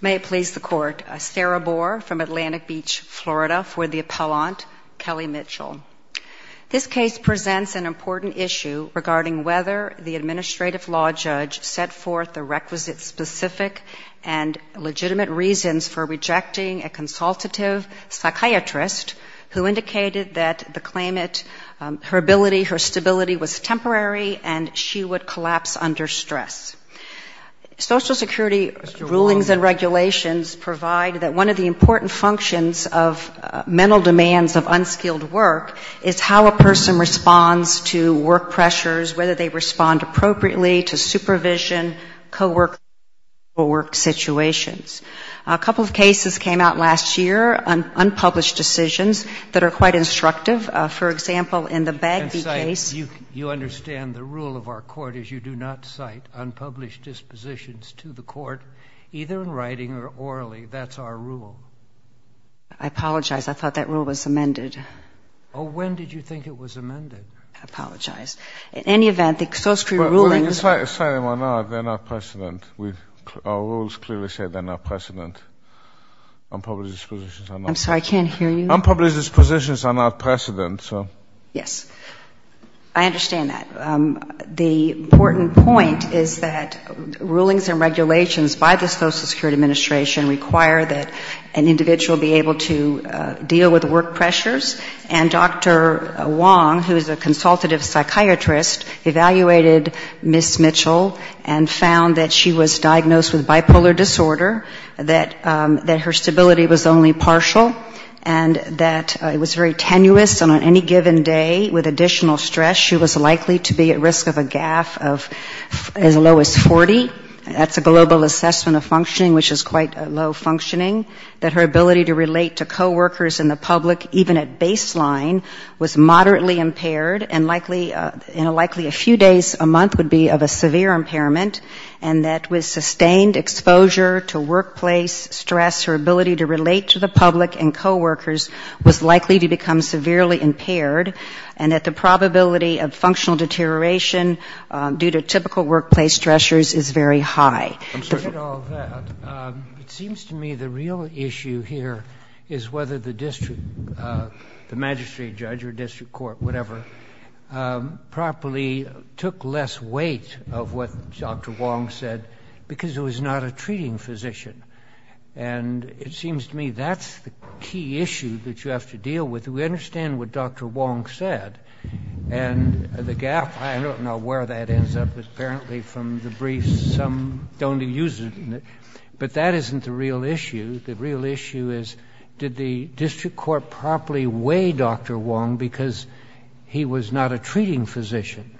May it please the Court, Sarah Bohr from Atlantic Beach, Florida, for the appellant, Kelly Mitchell. This case presents an important issue regarding whether the administrative law judge set forth the requisite specific and legitimate reasons for rejecting a consultative psychiatrist who indicated that the claimant, her ability, her stability was temporary and she would not be able to continue. Social Security rulings and regulations provide that one of the important functions of mental demands of unskilled work is how a person responds to work pressures, whether they respond appropriately to supervision, co-work situations. A couple of cases came out last year on unpublished decisions that are quite instructive. For example, in the court, either in writing or orally, that's our rule. I apologize. I thought that rule was amended. Oh, when did you think it was amended? I apologize. In any event, the Social Security rulings... Well, you're slightly wrong. They're not precedent. Our rules clearly say they're not precedent. I'm sorry, I can't hear you. Unpublished positions are not precedent, so... Yes. I understand that. The important point is that rulings and regulations by the Social Security Administration require that an individual be able to deal with work pressures, and Dr. Wong, who is a consultative psychiatrist, evaluated Ms. Mitchell and found that she was diagnosed with bipolar disorder, that her stability was only partial, and that it on any given day with additional stress, she was likely to be at risk of a gaffe as low as 40. That's a global assessment of functioning, which is quite low functioning. That her ability to relate to co-workers and the public, even at baseline, was moderately impaired and likely a few days a month would be of a severe impairment, and that with sustained exposure to workplace stress, her ability to relate to the public and co-workers was likely to become severely impaired, and that the probability of functional deterioration due to typical workplace stressors is very high. I'm sorry to get all of that. It seems to me the real issue here is whether the district, the magistrate judge or district court, whatever, properly took less weight of what Dr. Wong said because it was not a treating physician. And it seems to me that's the key issue that you have to deal with. We understand what Dr. Wong said, and the gaffe, I don't know where that ends up. Apparently from the briefs, some don't use it. But that isn't the real issue. The real issue is did the district court properly weigh Dr. Wong because he was not a treating physician?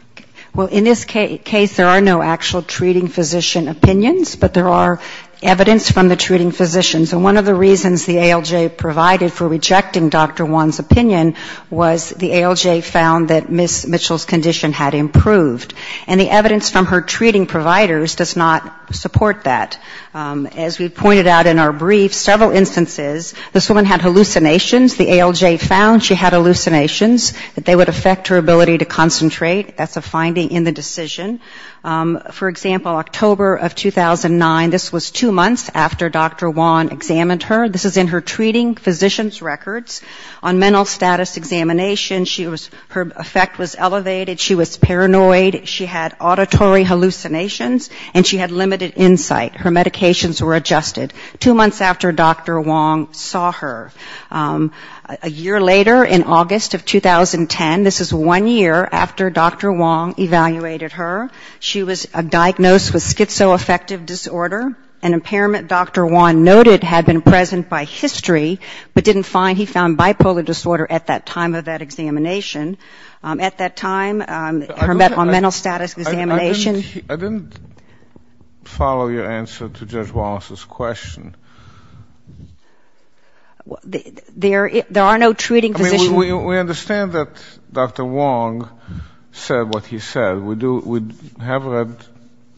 Well, in this case, there are no actual treating physician opinions, but there are evidence from the treating physicians. And one of the reasons the ALJ provided for rejecting Dr. Wong's opinion was the ALJ found that Ms. Mitchell's condition had improved. And the evidence from her treating providers does not support that. As we pointed out in our brief, several instances, this woman had hallucinations. The ALJ found she had hallucinations, that they would affect her ability to concentrate. That's a finding in the decision. For example, October of 2009, this was two months after Dr. Wong examined her. This is in her treating physician's records on mental status examination. She was, her effect was elevated. She was paranoid. She had auditory hallucinations. And she had limited insight. Her medications were adjusted. Two months after Dr. Wong saw her. A year later, in August of 2010, this is one year after Dr. Wong evaluated her. She was diagnosed with schizoaffective disorder, an impairment Dr. Wong noted had been present by history, but didn't find. He found bipolar disorder at that time of that examination. At that time, her mental status examination ---- I didn't follow your answer to Judge Wallace's question. There are no treating physicians ---- We understand that Dr. Wong said what he said. We do, we have read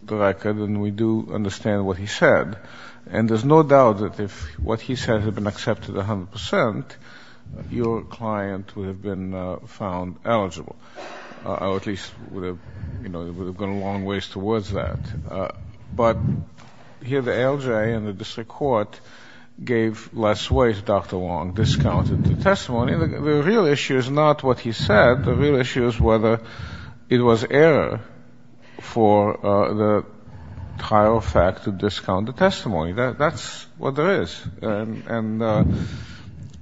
the record and we do understand what he said. And there's no doubt that if what he said had been accepted 100%, your client would have been found eligible. Or at least would have, you know, would have gone a long ways towards that. But here the ALJ and the district court gave less weight to Dr. Wong, discounted the testimony. The real issue is not what he said. The real issue is whether it was error for the trial fact to discount the testimony. That's what there is. And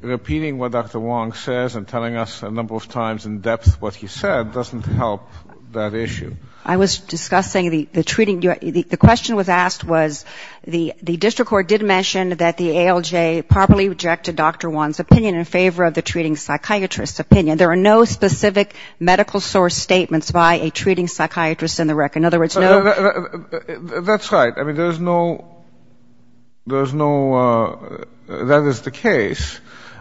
repeating what Dr. Wong says and telling us a number of times in depth what he said doesn't help that issue. I was discussing the treating ---- the question was asked was the district court did mention that the ALJ properly rejected Dr. Wong's opinion in favor of the treating psychiatrist's opinion. There are no specific medical source statements by a treating psychiatrist in the record. In other words, no ---- That's right. I mean, there's no ---- there's no ---- that is the case.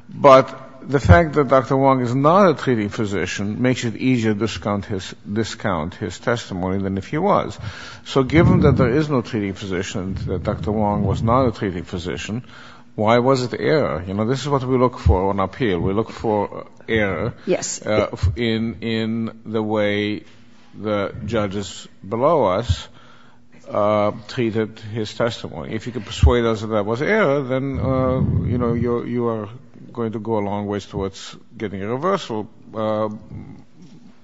But the fact that Dr. Wong is not a treating physician makes it easier to discount his testimony than if he was. So given that there is no treating physician, that Dr. Wong was not a treating physician, why was it error? You know, this is what we look for on appeal. We look for error in the way the judges below us treated his testimony. If you can persuade us that that was error, then, you know, you are going to go a long ways towards getting a reversal.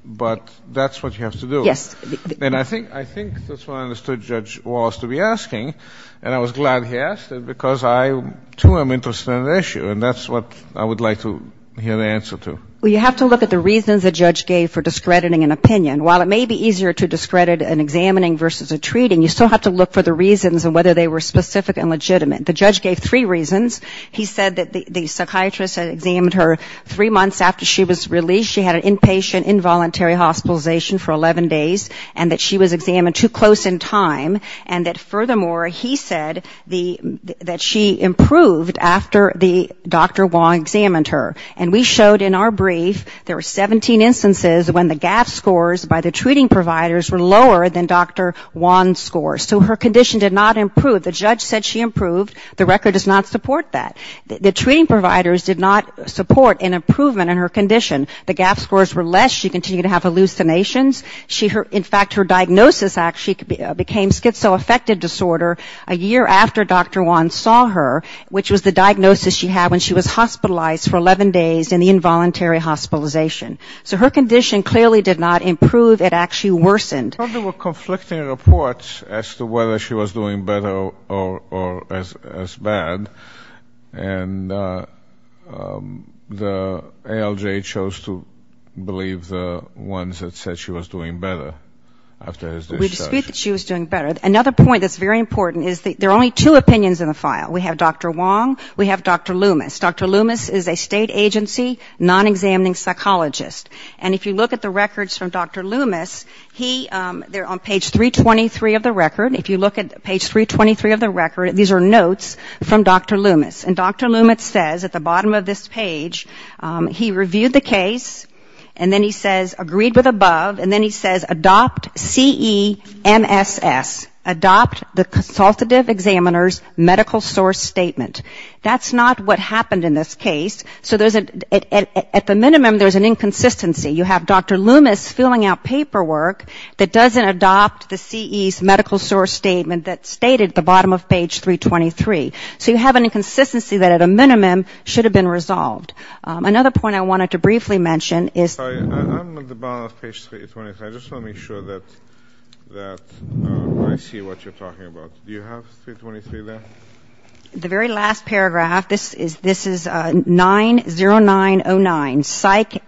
But that's what you have to do. Yes. And I think that's what I understood Judge Wallace to be asking. And I was glad he asked it because I, too, am interested in the issue. And that's what I would like to hear the answer to. Well, you have to look at the reasons the judge gave for discrediting an opinion. While it may be easier to discredit an examining versus a treating, you still have to look for the reasons and whether they were specific and legitimate. The judge gave three reasons. He said that the psychiatrist examined her three months after she was released. She had an inpatient involuntary hospitalization for 11 days and that she was examined too close in time. And that, furthermore, he said that she improved after the Dr. Wong examined her. And we showed in our brief there were 17 instances when the GAF scores by the treating providers were lower than Dr. Wong's scores. So her condition did not improve. The judge said she improved. The record does not support that. The treating providers did not support an improvement in her condition. The GAF scores were less. She continued to have hallucinations. In fact, her diagnosis actually became schizoaffective disorder a year after Dr. Wong saw her, which was the diagnosis she had when she was hospitalized for 11 days in the involuntary hospitalization. So her condition clearly did not improve. It actually worsened. There were conflicting reports as to whether she was doing better or as bad. And the ALJ chose to believe the ones that said she was doing better after his discharge. We dispute that she was doing better. Another point that's very important is that there are only two opinions in the file. We have Dr. Wong. We have Dr. Loomis. Dr. Loomis is a state agency non-examining psychologist. And if you look at the records from Dr. Loomis, he they're on page 323 of the record. If you look at page 323 of the record, these are Dr. Loomis. And Dr. Loomis says at the bottom of this page, he reviewed the case, and then he says agreed with above, and then he says adopt CEMSS, adopt the consultative examiner's medical source statement. That's not what happened in this case. So there's a at the minimum there's an inconsistency. You have Dr. Loomis filling out paperwork that doesn't adopt the CE's medical source statement that's stated at the bottom of page 323. So you have an inconsistency that at a minimum should have been resolved. Another point I wanted to briefly mention is the very last paragraph, this is 90909, psych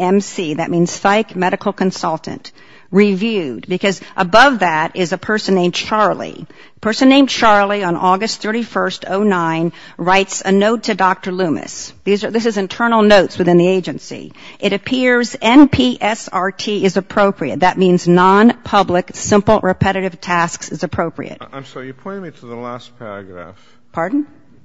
MC, that means psych medical consultant, reviewed. Because above that is a person named Charlie. A person named Charlie on August 31, 2009, writes a note to Dr. Loomis. This is internal notes within the agency. It appears NPSRT is appropriate. That means non-public simple repetitive tasks is appropriate. I'm sorry. You pointed me to the last paragraph.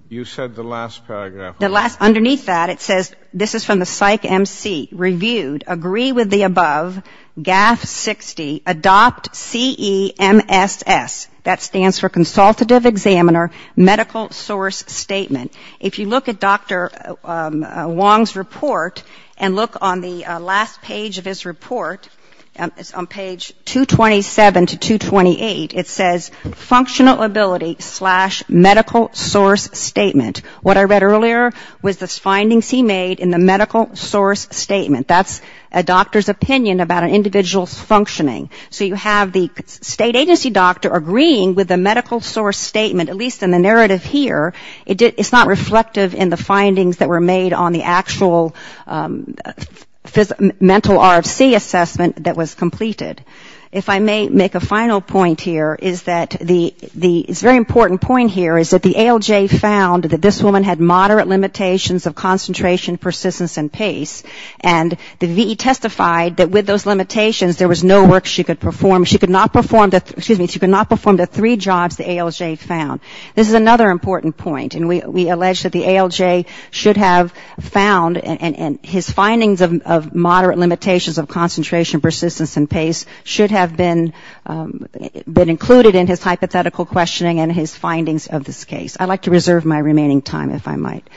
You said the last paragraph. Underneath that it says this is from the psych MC, reviewed, agree with the above, GAF-60, adopt CEMSS. That stands for consultative examiner medical source statement. If you look at Dr. Wong's report and look on the last page of his report, on page 227 to 228, it says functional ability slash medical source statement. What I read earlier was the findings he made in the medical source statement. That's a doctor's opinion about an individual's functioning. So you have the state agency doctor agreeing with the medical source statement, at least in the narrative here. It's not reflective in the findings that were made on the actual mental RFC assessment that was completed. If I may make a final point here, it's a very important point here, is that the ALJ found that this woman had moderate limitations of concentration, persistence, and pace. And the VE testified that with those limitations there was no work she could perform. She could not perform the three jobs the ALJ found. This is another important point. And we allege that the ALJ should have found, and his findings of moderate limitations of concentration, persistence, and pace should have been included in his hypothetical questioning and his findings of this case. I'd like to reserve my remaining time, if I might.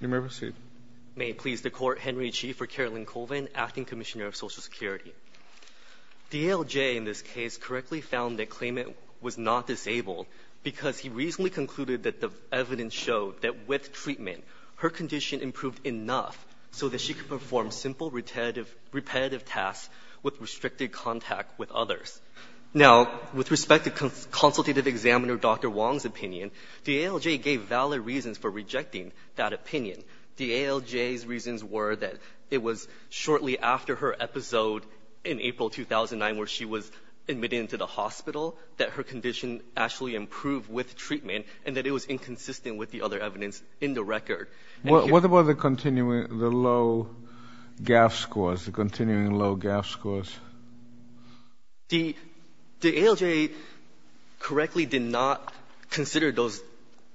You may proceed. May it please the Court, Henry Chi for Carolyn Colvin, Acting Commissioner of Social Security. The ALJ in this case correctly found that Klayman was not disabled because he reasonably had enough so that she could perform simple repetitive tasks with restricted contact with others. Now, with respect to Consultative Examiner Dr. Wong's opinion, the ALJ gave valid reasons for rejecting that opinion. The ALJ's reasons were that it was shortly after her episode in April 2009 where she was admitted into the hospital that her condition actually improved with treatment and that it was inconsistent with the other evidence in the record. What about the continuing, the low GAF scores, the continuing low GAF scores? The ALJ correctly did not consider those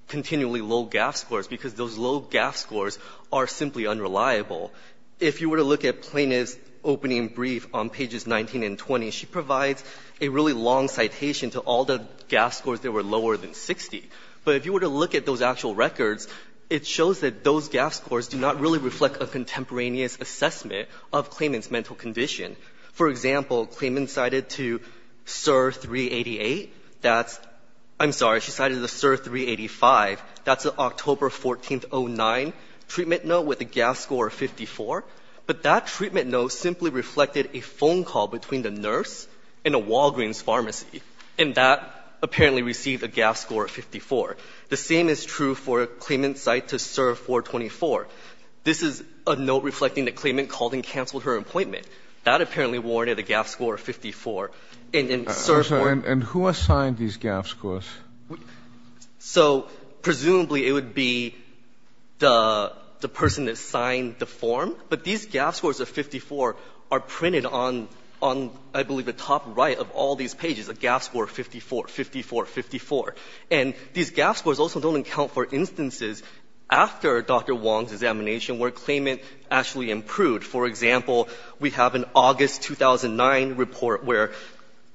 continually low GAF scores because those low GAF scores are simply unreliable. If you were to look at Plaintiff's opening brief on pages 19 and 20, she provides a really long citation to all the GAF scores that were lower than 60. But if you were to look at those actual records, it shows that those GAF scores do not really reflect a contemporaneous assessment of Klayman's mental condition. For example, Klayman cited to SIR 388, that's, I'm sorry, she cited the SIR 385, that's an October 14, 2009 treatment note with a GAF score of 54. But that treatment note simply reflected a phone call between the nurse and a Walgreens pharmacy. And that apparently received a GAF score of 54. The same is true for a Klayman site to SIR 424. This is a note reflecting that Klayman called and canceled her appointment. That apparently warranted a GAF score of 54. And in SIR 4— And who assigned these GAF scores? So presumably it would be the person that signed the form. But these GAF scores of 54 are printed on, I believe, the top right of all these pages, a GAF score of 54, 54, 54. And these GAF scores also don't account for instances after Dr. Wong's examination where Klayman actually improved. For example, we have an August 2009 report where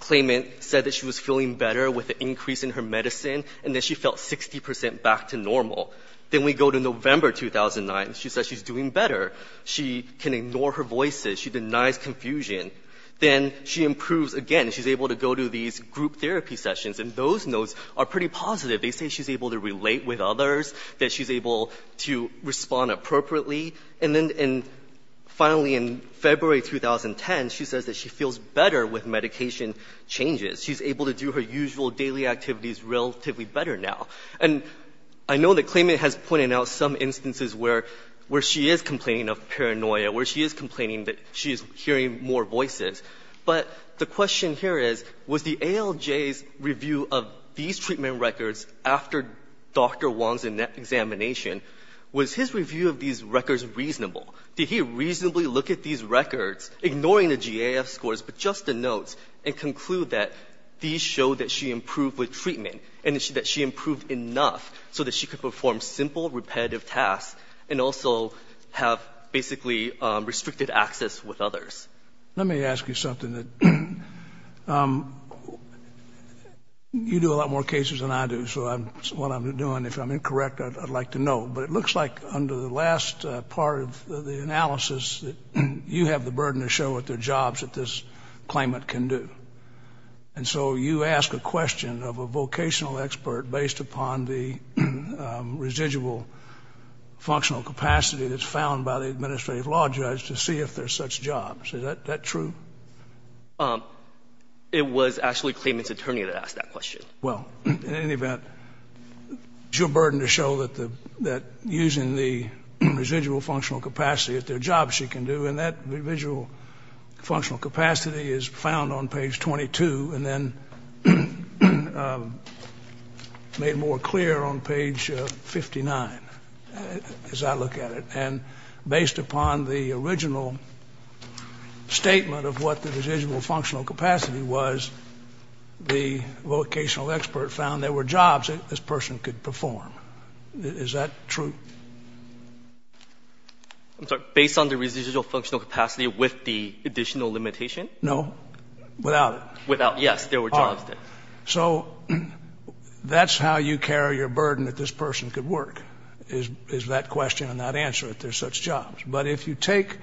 Klayman said that she was feeling better with an increase in her medicine and that she felt 60 percent back to normal. Then we go to November 2009. She says she's doing better. She can ignore her voices. She denies confusion. Then she improves again. She's able to go to these group therapy sessions. And those notes are pretty positive. They say she's able to relate with others, that she's able to respond appropriately. And then finally in February 2010, she says that she feels better with medication changes. She's able to do her usual daily activities relatively better now. And I know that Klayman has pointed out some instances where she is complaining of paranoia, where she is complaining that she is hearing more voices. But the question here is, was the ALJ's review of these treatment records after Dr. Wong's examination, was his review of these records reasonable? Did he reasonably look at these records, ignoring the GAF scores, but just the notes, and conclude that these show that she improved with treatment and that she improved enough so that she could perform simple repetitive tasks and also have basically restricted access with others? Let me ask you something. You do a lot more cases than I do, so what I'm doing, if I'm incorrect, I'd like to know. But it looks like under the last part of the analysis, you have the burden to show what the jobs that this Klayman can do. And so you ask a question of a vocational expert based upon the residual functional capacity that's found by the administrative law judge to see if there's such jobs. Is that true? It was actually Klayman's attorney that asked that question. Well, in any event, it's your burden to show that the — that using the residual functional capacity, if there are jobs she can do, and that residual functional capacity is found on page 22, and then made more clear on page 59, as I look at it. And the question is, based upon the original statement of what the residual functional capacity was, the vocational expert found there were jobs that this person could perform. Is that true? I'm sorry. Based on the residual functional capacity with the additional limitation? No. Without it. Without — yes, there were jobs there. So that's how you carry your burden that this person could work, is that question and not answer, if there's such jobs. But if you take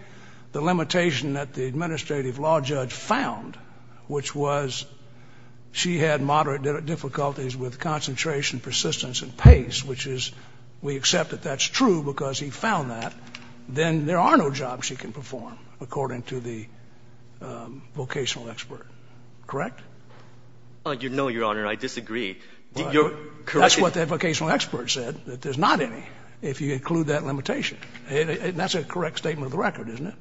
the limitation that the administrative law judge found, which was she had moderate difficulties with concentration, persistence, and pace, which is — we accept that that's true because he found that, then there are no jobs she can perform, according to the vocational expert. Correct? No, Your Honor. I disagree. Your — That's what the vocational expert said, that there's not any, if you include that limitation. That's a correct statement of the record, isn't it?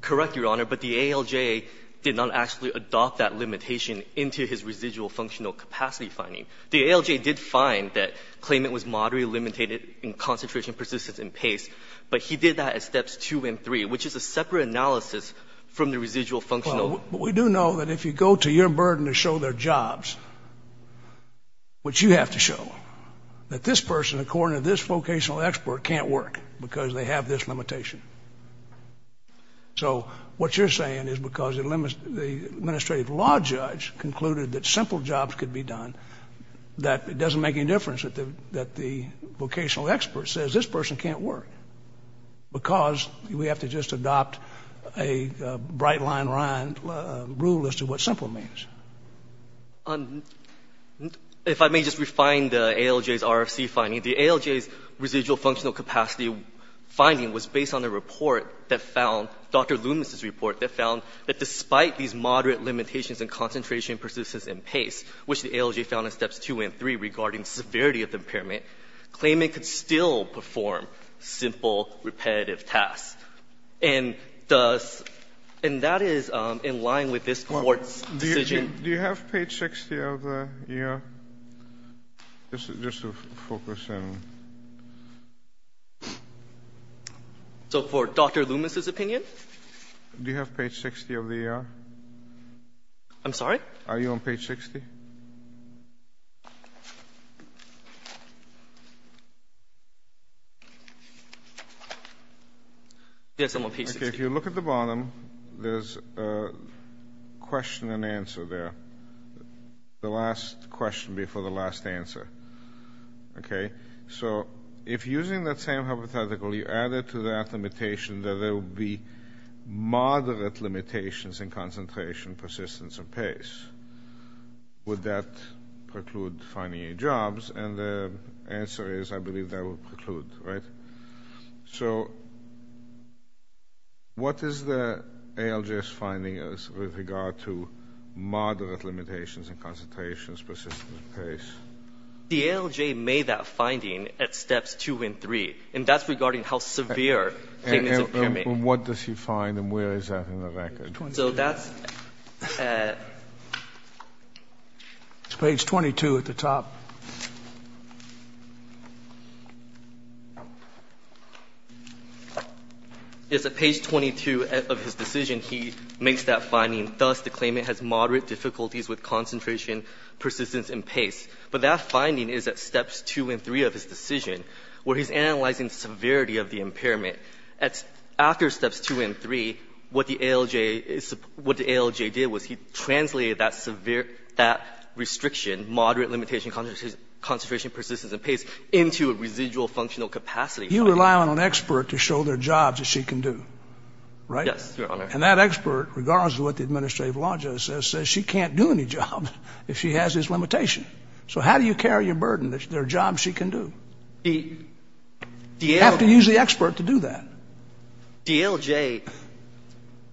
Correct, Your Honor. But the ALJ did not actually adopt that limitation into his residual functional capacity finding. The ALJ did find that claimant was moderately limited in concentration, persistence, and pace, but he did that at steps two and three, which is a separate analysis from the residual functional — We do know that if you go to your burden to show there are jobs, which you have to show, that this person, according to this vocational expert, can't work because they have this limitation. So what you're saying is because the administrative law judge concluded that simple jobs could be done, that it doesn't make any difference that the vocational expert says this person can't work because we have to just adopt a bright-line rule as to what simple means. If I may just refine the ALJ's RFC finding. The ALJ's residual functional capacity finding was based on a report that found — Dr. Loomis's report that found that despite these moderate limitations in concentration, persistence, and pace, which the ALJ found in steps two and three regarding severity of impairment, claimant could still perform simple repetitive tasks. And thus — and that is in line with this Court's decision — Do you have page 60 of the ER? Just to focus in. So for Dr. Loomis's opinion? Do you have page 60 of the ER? I'm sorry? Are you on page 60? Yes, I'm on page 60. Okay, if you look at the bottom, there's a question and answer there. The last question before the last answer. Okay? So if using that same hypothetical, you add it to that limitation that there will be moderate limitations in concentration, persistence, and pace, would that preclude finding any jobs? And the answer is, I believe that will preclude, right? So what is the ALJ's finding with regard to moderate limitations in concentrations, persistence, and pace? The ALJ made that finding at steps two and three, and that's regarding how severe claimant's impairment — And what does he find, and where is that in the record? So that's at — It's page 22 at the top. Yes, at page 22 of his decision, he makes that finding. Thus, the claimant has moderate difficulties with concentration, persistence, and pace. But that finding is at steps two and three of his decision, where he's analyzing the severity of the impairment. After steps two and three, what the ALJ did was he translated that severe — that restriction, moderate limitation in concentration, persistence, and pace, into a residual functional capacity. You rely on an expert to show their jobs that she can do, right? Yes, Your Honor. And that expert, regardless of what the administrative logic says, says she can't do any job if she has this limitation. So how do you carry your burden that there are jobs she can do? You have to use the expert to do that. The ALJ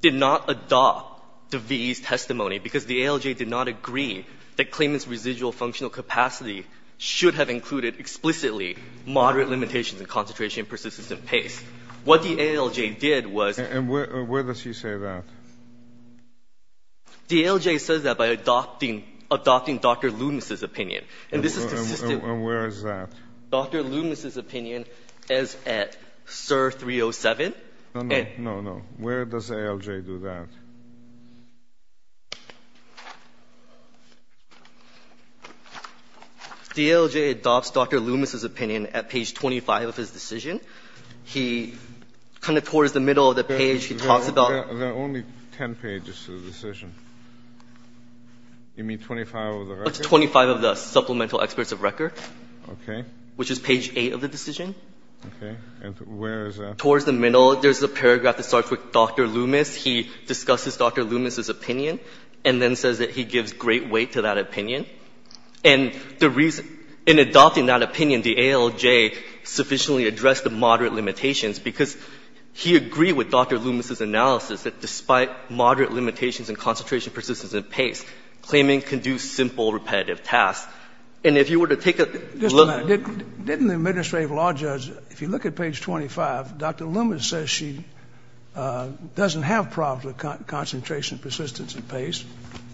did not adopt the V.E.'s testimony, because the ALJ did not agree that claimant's residual functional capacity should have included explicitly moderate limitations in concentration, persistence, and pace. What the ALJ did was — And where does he say that? The ALJ says that by adopting — adopting Dr. Loomis' opinion. And this is consistent — And where is that? Dr. Loomis' opinion is at SIR 307. No, no. No, no. Where does the ALJ do that? The ALJ adopts Dr. Loomis' opinion at page 25 of his decision. He kind of — towards the middle of the page, he talks about — There are only 10 pages to the decision. You mean 25 of the record? It's 25 of the supplemental experts of record. Okay. Which is page 8 of the decision. Okay. And where is that? Towards the middle, there's a paragraph that starts with Dr. Loomis. He discusses Dr. Loomis' opinion, and then says that he gives great weight to that opinion. And the reason — in adopting that opinion, the ALJ sufficiently addressed the moderate limitations because he agreed with Dr. Loomis' analysis that despite moderate limitations and concentration, persistence, and pace, claiming can do simple, repetitive tasks. And if you were to take a look — Just a minute. Didn't the administrative law judge — if you look at page 25, Dr. Loomis says she doesn't have problems with concentration, persistence, and pace.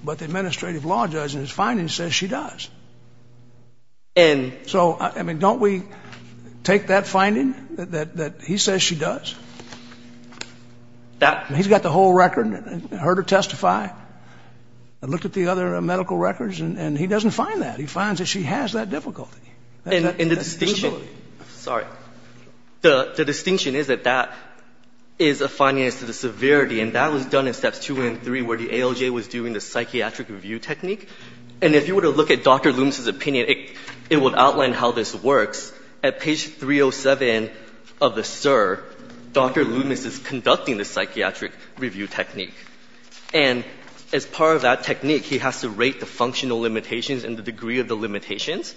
But the administrative law judge, in his findings, says she does. And — So, I mean, don't we take that finding, that he says she does? That — He's got the whole record, heard her testify. I looked at the other medical records, and he doesn't find that. He finds that she has that difficulty. And the distinction — Sorry. The distinction is that that is a finding as to the severity, and that was done in steps 2 and 3, where the ALJ was doing the psychiatric review technique. And if you were to look at Dr. Loomis' opinion, it would outline how this works. At page 307 of the SIR, Dr. Loomis is conducting the psychiatric review technique. And as part of that technique, he has to rate the functional limitations and the degree of the limitations.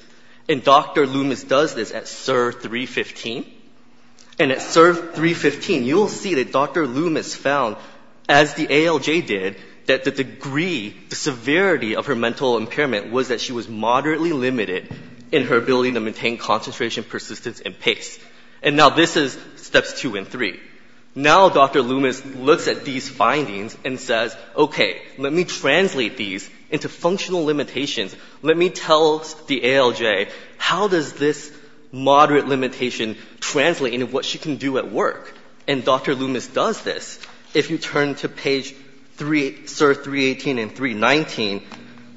And Dr. Loomis does this at SIR 315. And at SIR 315, you'll see that Dr. Loomis found, as the ALJ did, that the degree, the severity of her mental impairment was that she was moderately limited in her ability to maintain concentration, persistence, and pace. And now this is steps 2 and 3. Now Dr. Loomis looks at these findings and says, OK, let me translate these into functional limitations. Let me tell the ALJ, how does this moderate limitation translate into what she can do at work? And Dr. Loomis does this. If you turn to page SIR 318 and 319,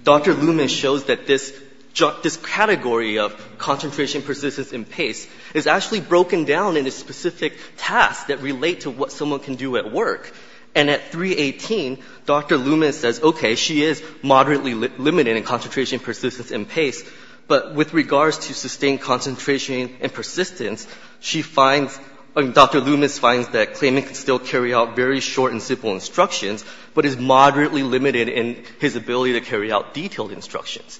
Dr. Loomis shows that this category of concentration, persistence, and pace is actually broken down into specific tasks that relate to what someone can do at work. And at 318, Dr. Loomis says, OK, she is moderately limited in concentration, persistence, and pace, but with regards to sustained concentration and persistence, Dr. Loomis finds that claiming to still carry out very short and simple instructions, but is moderately limited in his ability to carry out detailed instructions.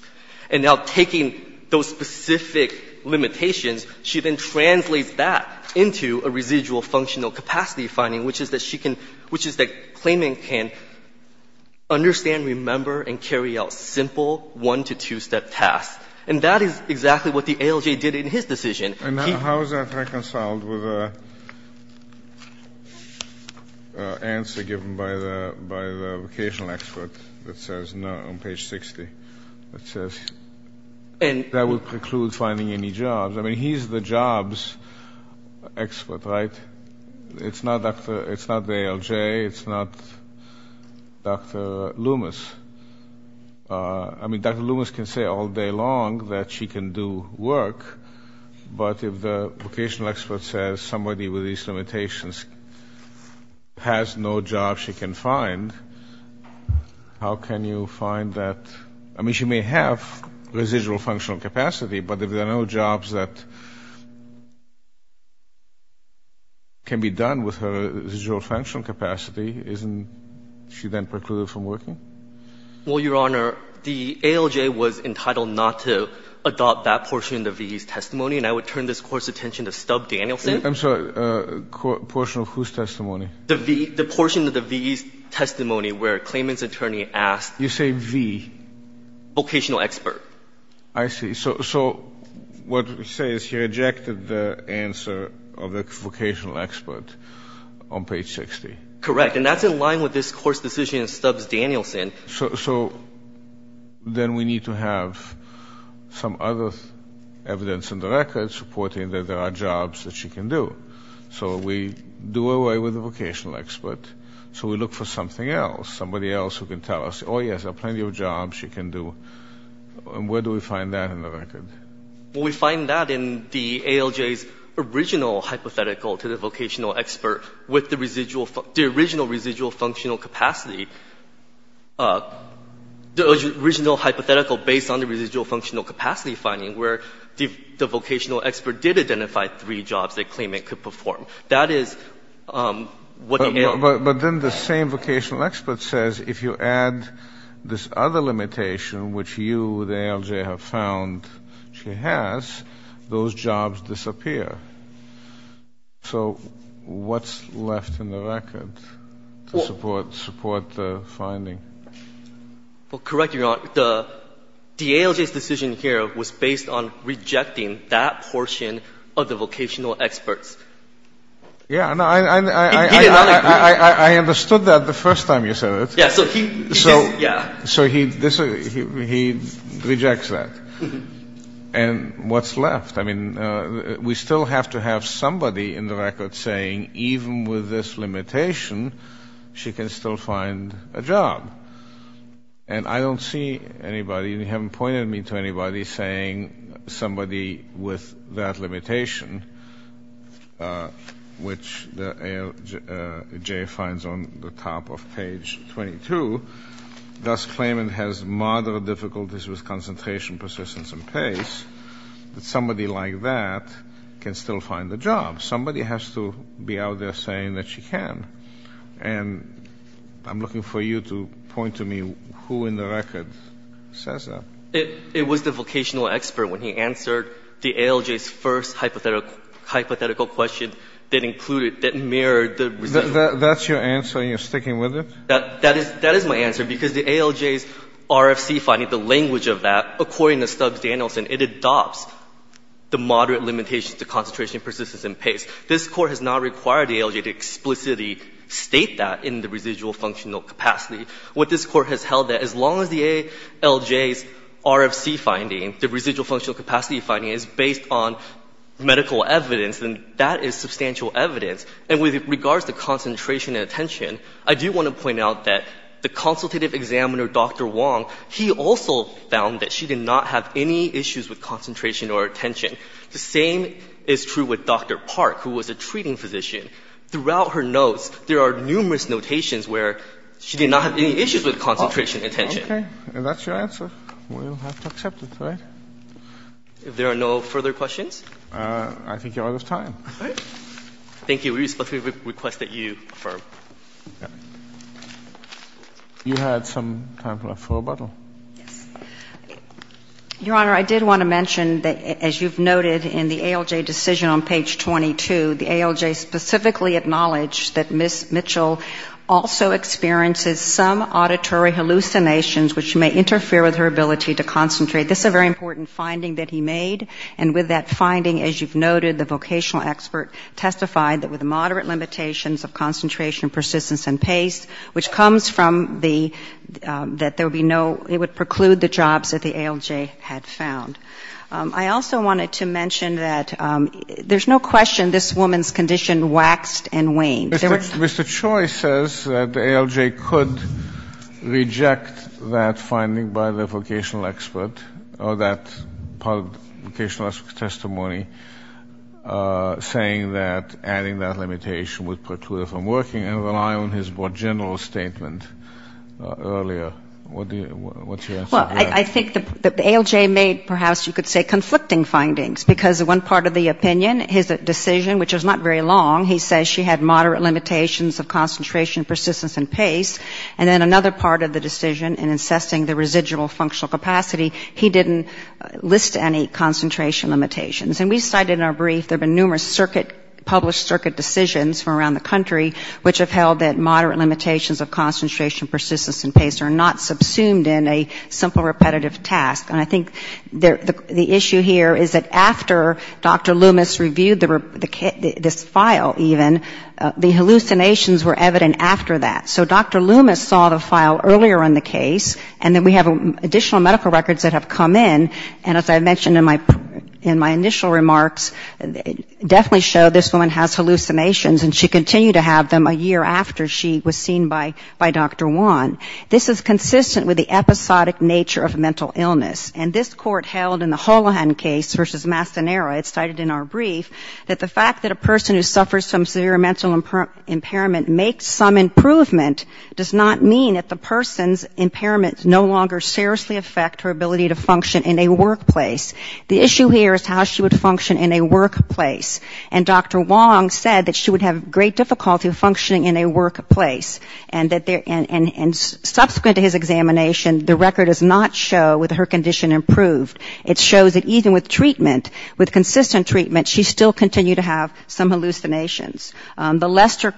And now taking those specific limitations, she then translates that into a residual functional capacity finding, which is that claiming can understand, remember, and carry out simple one- to two-step tasks. And that is exactly what the ALJ did in his decision. And how is that reconciled with the answer given by the vocational expert that says, no, on page 60, that says, that would preclude finding any jobs. I mean, he's the jobs expert, right? It's not the ALJ, it's not Dr. Loomis. I mean, Dr. Loomis can say all day long that she can do work, but if the vocational expert says, somebody with these limitations has no job she can find, how can you find that? I mean, she may have residual functional capacity, but if there are no jobs that can be done with her residual functional capacity, isn't she then precluded from working? Well, Your Honor, the ALJ was entitled not to adopt that portion of the V's testimony, and I would turn this Court's attention to Stubb Danielson. I'm sorry, a portion of whose testimony? The portion of the V's testimony where a claimant's attorney asked. You say V. Vocational expert. I see. So what we say is he rejected the answer of the vocational expert on page 60. Correct. And that's in line with this Court's decision in Stubb's Danielson. So then we need to have some other evidence in the records reporting that there are jobs that she can do. So we do away with the vocational expert, so we look for something else, somebody else who can tell us, oh, yes, there are plenty of jobs she can do. And where do we find that in the record? We find that in the ALJ's original hypothetical to the vocational expert with the original residual functional capacity. The original hypothetical based on the residual functional capacity finding where the vocational expert did identify three jobs that the claimant could perform. That is what the ALJ... But then the same vocational expert says, if you add this other limitation which you, the ALJ, have found she has, those jobs disappear. So what's left in the record to support the finding? Correct, Your Honor. The ALJ's decision here was based on rejecting that portion of the vocational experts. Yeah, I understood that the first time you said it. So he rejects that. And what's left? I mean, we still have to have somebody in the record saying, even with this limitation, she can still find a job. And I don't see anybody, you haven't pointed me to anybody, saying somebody with that limitation. Which the ALJ finds on the top of page 22, thus claiming has moderate difficulties with concentration, persistence, and pace, that somebody like that can still find a job. Somebody has to be out there saying that she can. And I'm looking for you to point to me who in the record says that. It was the vocational expert when he answered the ALJ's first hypothetical question that included, that mirrored the residual. That's your answer? You're sticking with it? That is my answer. Because the ALJ's RFC finding, the language of that, according to Stubbs Danielson, it adopts the moderate limitations to concentration, persistence, and pace. This Court has not required the ALJ to explicitly state that in the residual functional capacity. What this Court has held that as long as the ALJ's RFC finding, the residual functional capacity finding, is based on medical evidence, then that is substantial evidence. And with regards to concentration and attention, I do want to point out that the consultative examiner, Dr. Wong, he also found that she did not have any issues with concentration or attention. The same is true with Dr. Park, who was a treating physician. Throughout her notes, there are numerous notations where she did not have any issues with concentration and attention. Okay. And that's your answer. We'll have to accept it, right? If there are no further questions? I think you're out of time. All right. Thank you. We respectfully request that you affirm. You had some time left for rebuttal. Yes. Your Honor, I did want to mention that, as you've noted in the ALJ decision on page 22, the ALJ specifically acknowledged that Ms. Mitchell also experiences some auditory hallucinations which may interfere with her ability to concentrate. This is a very important finding that he made. And with that finding, as you've noted, the vocational expert testified that with moderate limitations of concentration, persistence, and pace, which comes from the, that there would be no, it would preclude the jobs that the ALJ had found. I also wanted to mention that there's no question this woman's condition waxed and waned. Mr. Choi says that the ALJ could reject that finding by the vocational expert, or that part of the vocational expert's testimony, saying that adding that limitation would preclude her from working, and rely on his more general statement earlier. What's your answer to that? Well, I think the ALJ made, perhaps you could say, conflicting findings, because one part of the opinion, his decision, which was not very long, he says she had moderate limitations of concentration, persistence, and pace. And then another part of the decision, in assessing the residual functional capacity, he didn't list any concentration limitations. And we cited in our brief, there have been numerous circuit, published circuit decisions from around the country, which have held that moderate limitations of concentration, persistence, and pace are not subsumed in a simple repetitive task. And I think the issue here is that after Dr. Loomis reviewed this file, even, the hallucinations were evident after that. So Dr. Loomis saw the file earlier in the case, and then we have additional medical records that have come in, and as I mentioned in my initial remarks, definitely show this woman has hallucinations, and she continued to have them a year after she was seen by Dr. Wan. This is consistent with the episodic nature of mental illness. And this court held in the Holohan case versus Mastanera, it's cited in our brief, that the fact that a person who suffers from severe mental impairment makes some improvement, does not mean that the person's impairments no longer seriously affect her ability to function in a workplace. The issue here is how she would function in a workplace. And Dr. Wan said that she would have great difficulty functioning in a workplace. And subsequent to his examination, the record does not show with her condition improved. It shows that even with treatment, with consistent treatment, she still continued to have some hallucinations. The Lester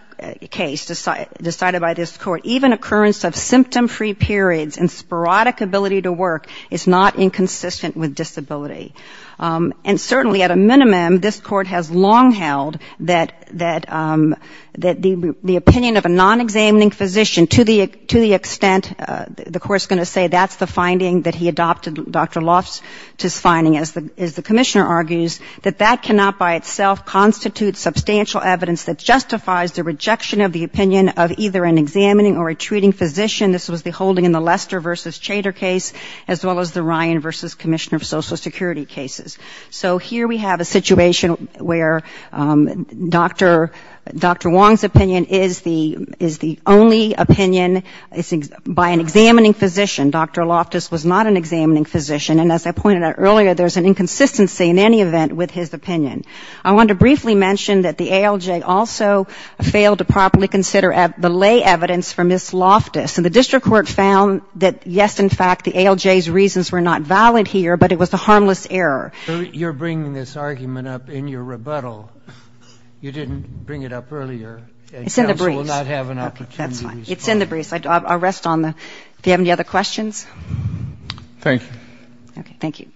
case, decided by this court, even occurrence of symptom-free periods and sporadic ability to work is not inconsistent with disability. And certainly, at a minimum, this court has long held that the opinion of a non-examining physician to the extent, the court's going to say, that's the finding that he adopted, Dr. Loftis' finding, as the commissioner argues, that that cannot by itself constitute substantial evidence that justifies the rejection of the opinion of either an examining or a treating physician, this was the holding in the Lester versus Chater case, as well as the Ryan versus Commissioner of Social Security cases. So here we have a situation where Dr. Wong's opinion is the only opinion by an examining physician. Dr. Loftis was not an examining physician. And as I pointed out earlier, there's an inconsistency in any event with his opinion. I want to briefly mention that the ALJ also failed to properly consider the lay evidence from Ms. Loftis. And the district court found that, yes, in fact, the ALJ's reasons were not valid here, but it was the harmless error. You're bringing this argument up in your rebuttal. You didn't bring it up earlier. It's in the briefs. Okay, that's fine. It's in the briefs. I'll rest on that. Do you have any other questions? Thank you. Okay, thank you.